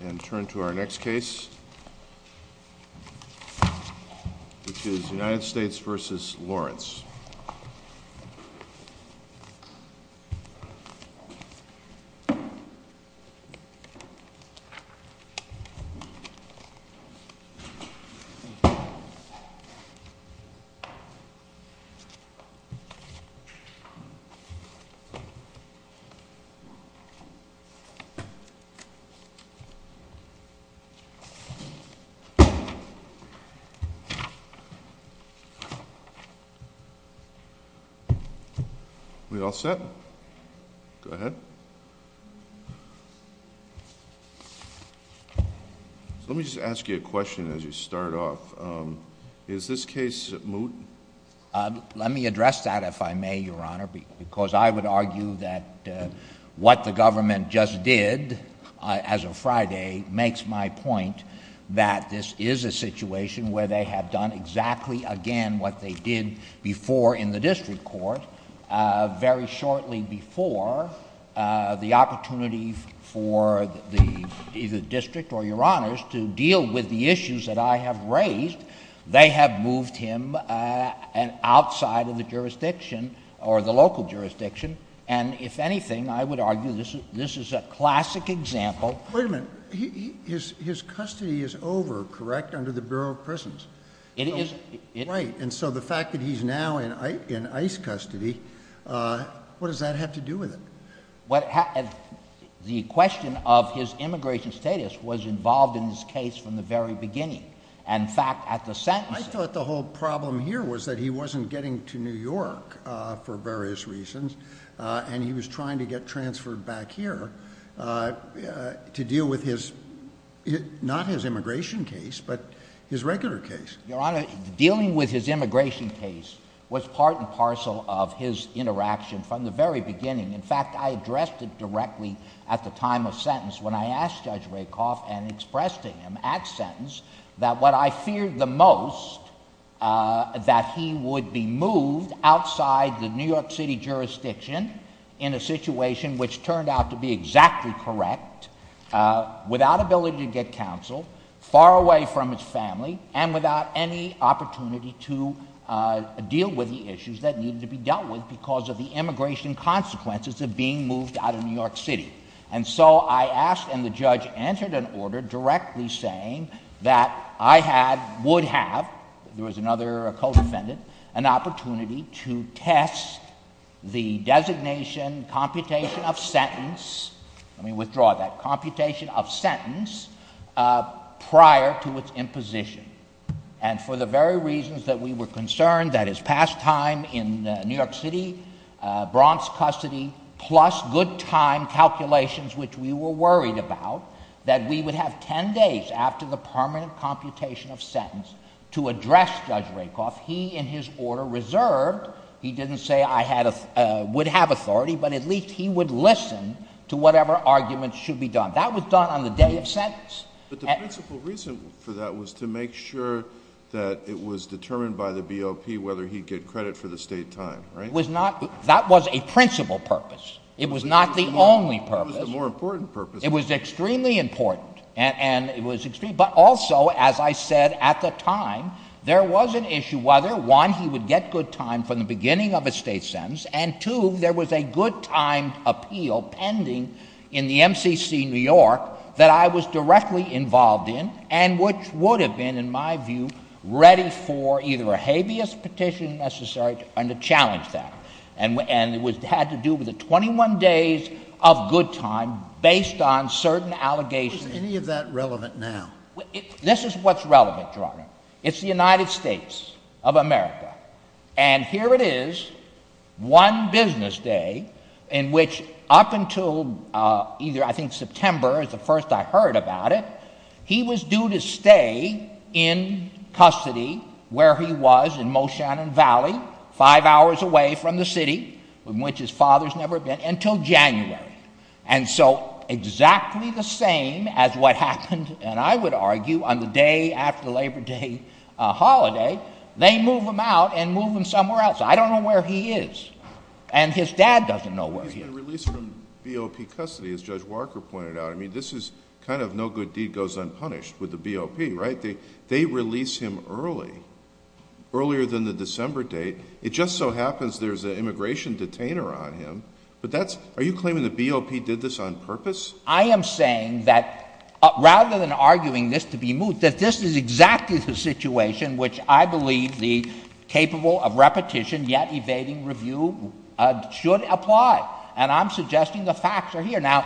And turn to our next case, which is United States v. Lawrence. Let me just ask you a question as you start off. Is this case moot? Let me address that, if I may, Your Honor, because I would argue that what the government just did as of Friday makes my point that this is a situation where they have done exactly again what they did before in the district court. Very shortly before, the opportunity for the district or Your Honors to deal with the issues that I have raised, they have moved him outside of the jurisdiction or the local jurisdiction. And if anything, I would argue this is a classic example. Wait a minute. His custody is over, correct, under the Bureau of Prisons? It is. Right. And so the fact that he's now in ICE custody, what does that have to do with it? The question of his immigration status was involved in this case from the very beginning. And in fact, at the sentencing— And he was trying to get transferred back here to deal with his—not his immigration case, but his regular case. Your Honor, dealing with his immigration case was part and parcel of his interaction from the very beginning. In fact, I addressed it directly at the time of sentence when I asked Judge Rakoff and expressed to him at sentence that what I feared the most, that he would be moved outside the New York City jurisdiction in a situation which turned out to be exactly correct, without ability to get counsel, far away from his family, and without any opportunity to deal with the issues that needed to be dealt with because of the immigration consequences of being moved out of New York City. And so I asked, and the judge entered an order directly saying that I had—would have—there was another co-defendant—an opportunity to test the designation, computation of sentence—let me withdraw that—computation of sentence prior to its imposition. And for the very reasons that we were concerned, that his pastime in New York City, Bronx custody, plus good time calculations, which we were worried about, that we would have 10 days after the permanent computation of sentence to address Judge Rakoff, he, in his order, reserved—he didn't say I would have authority, but at least he would listen to whatever arguments should be done. That was done on the day of sentence. But the principal reason for that was to make sure that it was determined by the BOP whether he'd get credit for the state time, right? It was not—that was a principal purpose. It was not the only purpose. It was the more important purpose. It was extremely important, and it was—but also, as I said at the time, there was an issue whether, one, he would get good time from the beginning of a state sentence, and, two, there was a good time appeal pending in the MCC New York that I was directly involved in and which would have been, in my view, ready for either a habeas petition necessary and to challenge that. And it had to do with the 21 days of good time based on certain allegations. Is any of that relevant now? This is what's relevant, Gerardo. It's the United States of America. And here it is, one business day in which, up until either, I think, September is the first I heard about it, he was due to stay in custody where he was in Moshannon Valley, five hours away from the city, from which his father's never been, until January. And so, exactly the same as what happened, and I would argue, on the day after Labor Day holiday, they move him out and move him somewhere else. I don't know where he is. And his dad doesn't know where he is. He's been released from BOP custody, as Judge Walker pointed out. I mean, this is kind of no good deed goes unpunished with the BOP, right? They release him early, earlier than the December date. It just so happens there's an immigration detainer on him. But that's, are you claiming the BOP did this on purpose? I am saying that, rather than arguing this to be moot, that this is exactly the situation which I believe the capable of repetition, yet evading review, should apply. And I'm suggesting the facts are here. Now,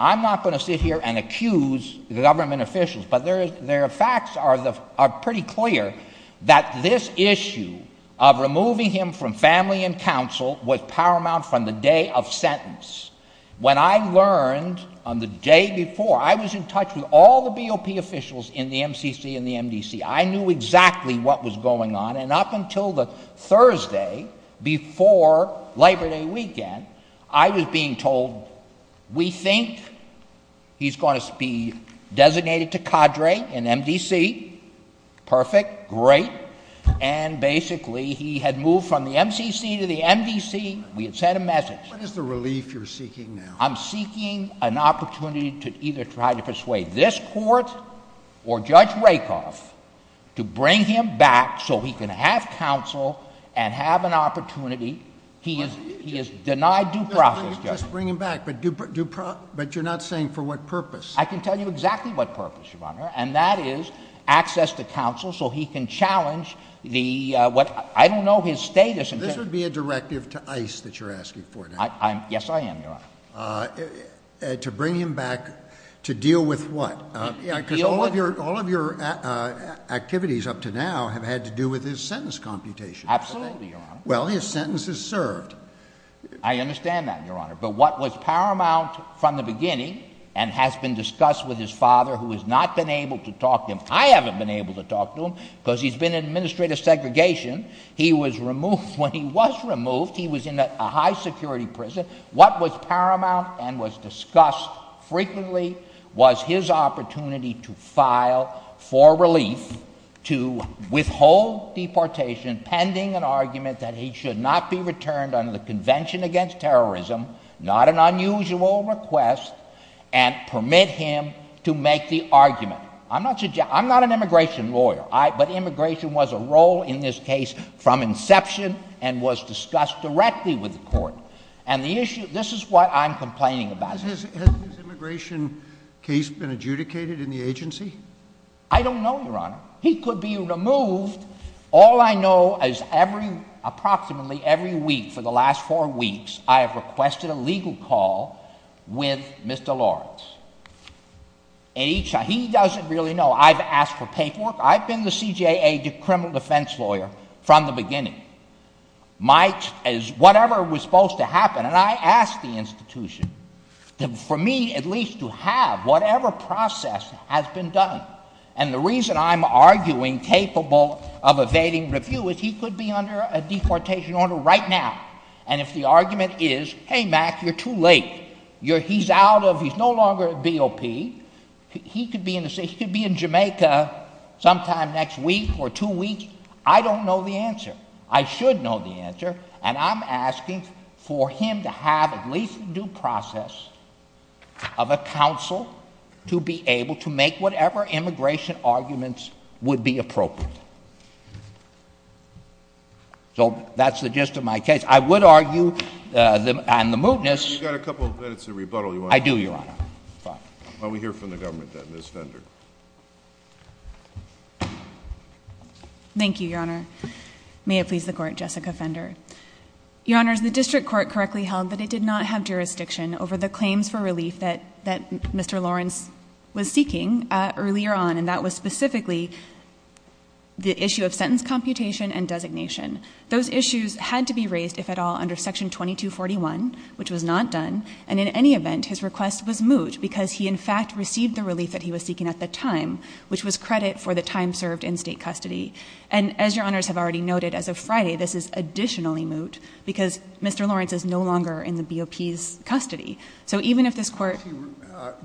I'm not going to sit here and accuse government officials, but their facts are pretty clear that this issue of removing him from family and counsel was paramount from the day of sentence. When I learned, on the day before, I was in touch with all the BOP officials in the MCC and the MDC. I knew exactly what was going on. And up until the Thursday before Labor Day weekend, I was being told, we think he's going to be designated to cadre in MDC. Perfect. Great. And, basically, he had moved from the MCC to the MDC. We had sent a message. What is the relief you're seeking now? I'm seeking an opportunity to either try to persuade this court or Judge Rakoff to bring him back so he can have counsel and have an opportunity. He is denied due process, Your Honor. Just bring him back, but you're not saying for what purpose? I can tell you exactly what purpose, Your Honor, and that is access to counsel so he can challenge the, what, I don't know his status. This would be a directive to ICE that you're asking for now. Yes, I am, Your Honor. To bring him back to deal with what? Yeah, because all of your activities up to now have had to do with his sentence computation. Absolutely, Your Honor. Well, his sentence is served. I understand that, Your Honor, but what was paramount from the beginning and has been discussed with his father, who has not been able to talk to him. I haven't been able to talk to him because he's been in administrative segregation. He was removed. When he was removed, he was in a high security prison. What was paramount and was discussed frequently was his opportunity to file for relief to withhold deportation pending an argument that he should not be returned under the Convention Against Terrorism, not an unusual request, and permit him to make the argument. I'm not an immigration lawyer, but immigration was a role in this case from inception and was discussed directly with the court. This is what I'm complaining about. Has his immigration case been adjudicated in the agency? I don't know, Your Honor. He could be removed. All I know is approximately every week for the last four weeks, I have requested a legal call with Mr. Lawrence. He doesn't really know. I've asked for paperwork. I've been the CJA criminal defense lawyer from the beginning. Whatever was supposed to happen, and I asked the institution for me at least to have whatever process has been done. The reason I'm arguing capable of evading review is he could be under a deportation order right now. If the argument is, hey, Mac, you're too late. He's no longer a BOP. He could be in Jamaica sometime next week or two weeks. I don't know the answer. I should know the answer, and I'm asking for him to have at least a due process of a counsel to be able to make whatever immigration arguments would be appropriate. So, that's the gist of my case. I would argue, and the mootness... You've got a couple of minutes of rebuttal you want to... I do, Your Honor. Fine. Well, we hear from the government then. Ms. Fender. Thank you, Your Honor. May it please the court. Jessica Fender. Your Honors, the district court correctly held that it did not have jurisdiction over the claims for relief that Mr. Lawrence was seeking earlier on, and that was specifically the issue of sentence computation and designation. Those issues had to be raised, if at all, under Section 2241, which was not done, and in any event, his request was moot because he, in fact, received the relief that he was seeking at the time, which was credit for the time served in state custody. And as Your Honors have already noted, as of Friday, this is additionally moot because Mr. Lawrence is no longer in the BOP's custody. So even if this court...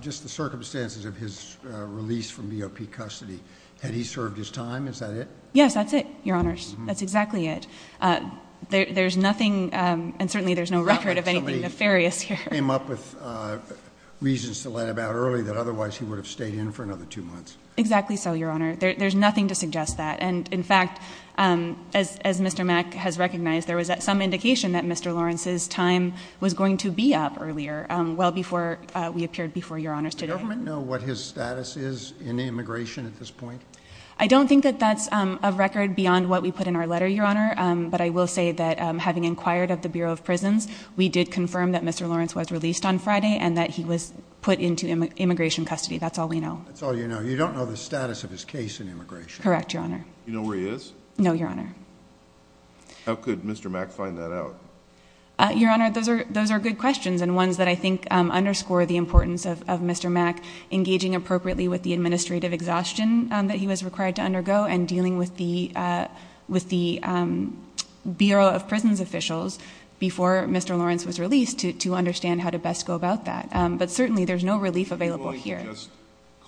Just the circumstances of his release from BOP custody, had he served his time, is that it? Yes, that's it, Your Honors. That's exactly it. There's nothing, and certainly there's no record of anything nefarious here. He came up with reasons to let him out early that otherwise he would have stayed in for another two months. Exactly so, Your Honor. There's nothing to suggest that, and in fact, as Mr. Mack has recognized, there was some indication that Mr. Lawrence's time was going to be up earlier, well before we appeared before Your Honors today. Does the government know what his status is in immigration at this point? I don't think that that's of record beyond what we put in our letter, Your Honor, but I will say that having inquired at the Bureau of Prisons, we did confirm that Mr. Lawrence was released on Friday and that he was put into immigration custody. That's all we know. That's all you know. You don't know the status of his case in immigration? Correct, Your Honor. Do you know where he is? No, Your Honor. How could Mr. Mack find that out? Your Honor, those are good questions and ones that I think underscore the importance of Mr. Mack engaging appropriately with the administrative exhaustion that he was required to undergo and dealing with the Bureau of Prisons officials before Mr. Lawrence was released to understand how to best go about that, but certainly there's no relief available here. Could you just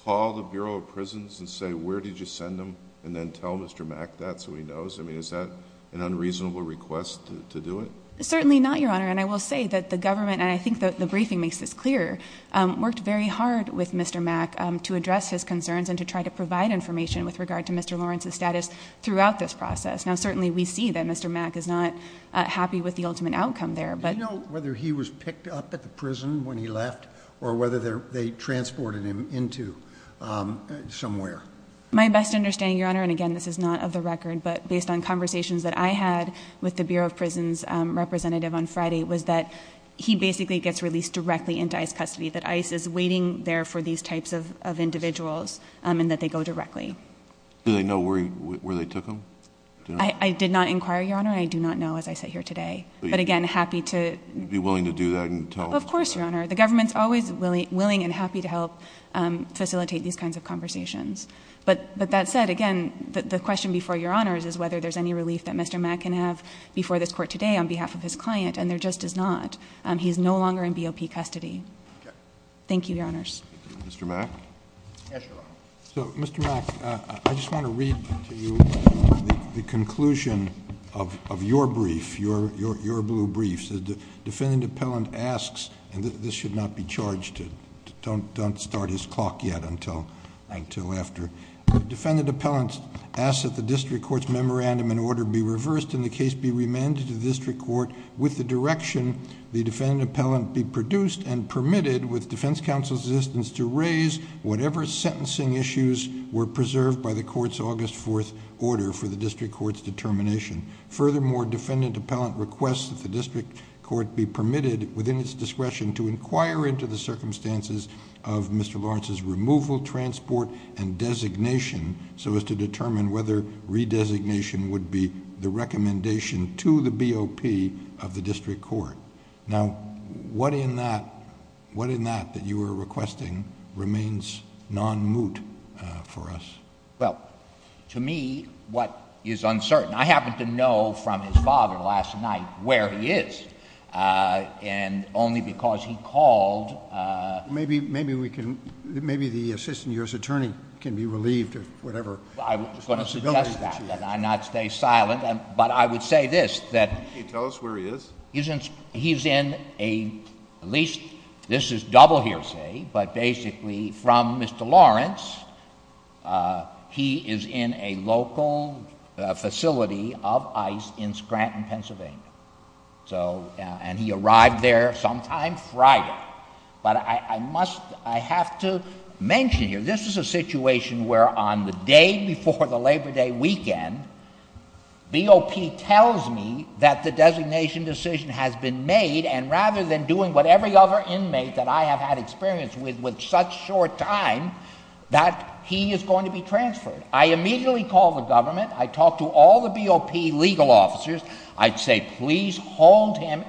call the Bureau of Prisons and say, where did you send him, and then tell Mr. Mack that so he knows? I mean, is that an unreasonable request to do it? Certainly not, Your Honor, and I will say that the government, and I think the briefing makes this clear, worked very hard with Mr. Mack to address his concerns and to try to provide information with regard to Mr. Lawrence's status throughout this process. Now, certainly we see that Mr. Mack is not happy with the ultimate outcome there, but Do you know whether he was picked up at the prison when he left or whether they transport him into somewhere? My best understanding, Your Honor, and again, this is not of the record, but based on conversations that I had with the Bureau of Prisons representative on Friday was that he basically gets released directly into ICE custody, that ICE is waiting there for these types of individuals and that they go directly. Do they know where they took him? I did not inquire, Your Honor, and I do not know as I sit here today, but again, happy Of course, Your Honor. The government is always willing and happy to help facilitate these kinds of conversations, but that said, again, the question before Your Honor is whether there is any relief that Mr. Mack can have before this Court today on behalf of his client, and there just is not. He is no longer in BOP custody. Thank you, Your Honors. Mr. Mack? Yes, Your Honor. So, Mr. Mack, I just want to read to you the conclusion of your brief, your blue brief. The defendant appellant asks, and this should not be charged, don't start his clock yet until after, defendant appellant asks that the district court's memorandum and order be reversed and the case be remanded to the district court with the direction the defendant appellant be produced and permitted with defense counsel's assistance to raise whatever sentencing issues were preserved by the court's August 4th order for the district court's determination. Furthermore, defendant appellant requests that the district court be permitted within its discretion to inquire into the circumstances of Mr. Lawrence's removal, transport, and designation so as to determine whether redesignation would be the recommendation to the BOP of the district court. Now, what in that, what in that that you were requesting remains non-moot for us? Well, to me, what is uncertain. I happen to know from his father last night where he is, and only because he called. Maybe, maybe we can, maybe the assistant year's attorney can be relieved of whatever responsibility he has. I'm going to suggest that, that I not stay silent, but I would say this, that. Can you tell us where he is? He's in a, at least, this is double hearsay, but basically from Mr. Lawrence, he is in a local facility of ICE in Scranton, Pennsylvania. So, and he arrived there sometime Friday. But I must, I have to mention here, this is a situation where on the day before the Labor Day weekend, BOP tells me that the designation decision has been made, and rather than doing what every other inmate that I have had experience with, with such short time, that he is going to be transferred. I immediately call the government, I talk to all the BOP legal officers, I'd say, please hold him,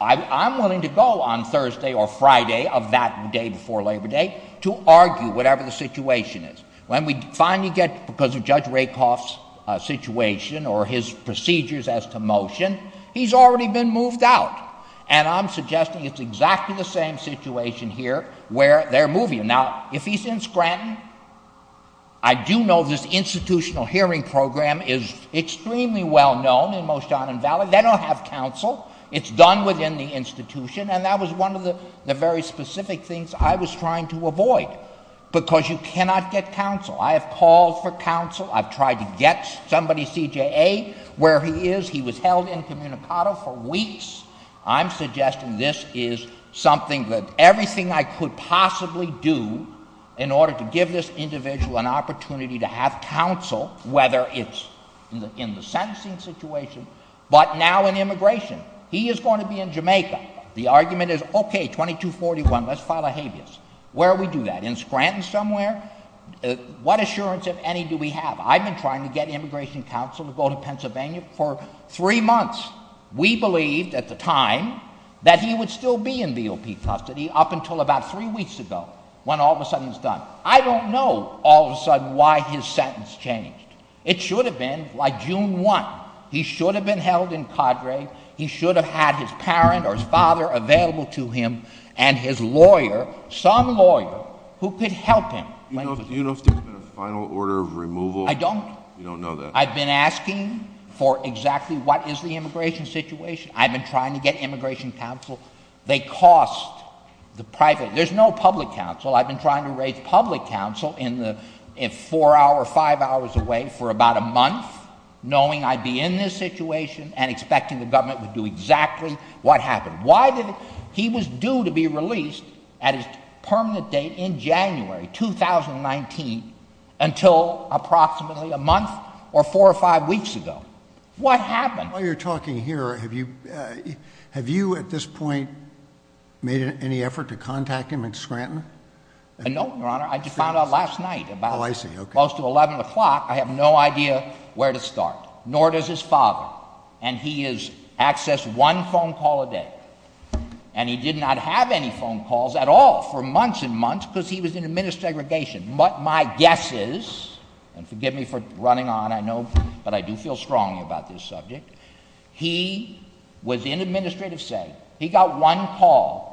I'm willing to go on Thursday or Friday of that day before Labor Day to argue whatever the situation is. When we finally get, because of Judge Rakoff's situation or his procedures as to motion, he's already been moved out. And I'm suggesting it's exactly the same situation here where they're moving him. Now, if he's in Scranton, I do know this institutional hearing program is extremely well-known in most down in Valley. They don't have counsel. It's done within the institution, and that was one of the very specific things I was trying to avoid, because you cannot get counsel. I have called for counsel. I've tried to get somebody, CJA, where he is. He was held incommunicado for weeks. I'm suggesting this is something that everything I could possibly do in order to give this individual an opportunity to have counsel, whether it's in the sentencing situation, but now in immigration. He is going to be in Jamaica. The argument is, okay, 2241, let's file a habeas. Where do we do that? In Scranton somewhere? What assurance, if any, do we have? I've been trying to get immigration counsel to go to Pennsylvania for three months. We believed at the time that he would still be in BOP custody up until about three weeks ago when all of a sudden it's done. I don't know all of a sudden why his sentence changed. It should have been like June 1. He should have been held in cadre. He should have had his parent or his father available to him and his lawyer, some lawyer, who could help him. Do you know if there's been a final order of removal? I don't. You don't know that? I've been asking for exactly what is the immigration situation. I've been trying to get immigration counsel. They cost the private. There's no public counsel. I've been trying to raise public counsel in the four hour, five hours away for about a month, knowing I'd be in this situation and expecting the government would do exactly what happened. Why did he was due to be released at his permanent date in January 2019 until approximately a four or five weeks ago? What happened? While you're talking here, have you, have you at this point made any effort to contact him in Scranton? No, Your Honor. I just found out last night about close to 11 o'clock. I have no idea where to start, nor does his father. And he is accessed one phone call a day. And he did not have any phone calls at all for months and months because he was in administrative segregation. But my guess is, and forgive me for running on, I know, but I do feel strongly about this subject. He was in administrative segregation. He got one call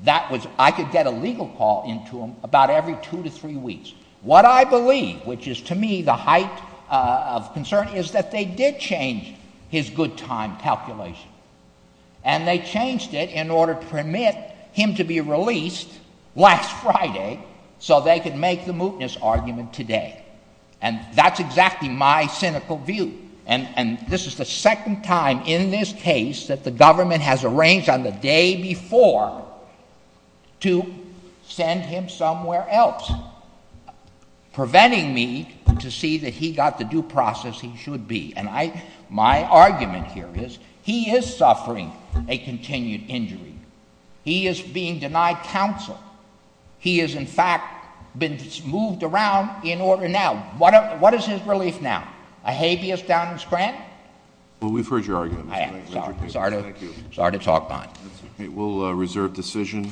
that was, I could get a legal call into him about every two to three weeks. What I believe, which is to me the height of concern, is that they did change his good time calculation. And they changed it in order to permit him to be released last Friday so they could make the mootness argument today. And that's exactly my cynical view. And this is the second time in this case that the government has arranged on the day before to send him somewhere else, preventing me to see that he got the due process he should be. And I, my argument here is, he is suffering a continued injury. He is being denied counsel. He is, in fact, been moved around in order, now, what is his relief now? A habeas downing grant? Well, we've heard your argument, Mr. President. I am. Sorry to talk behind. That's okay. We'll reserve decision.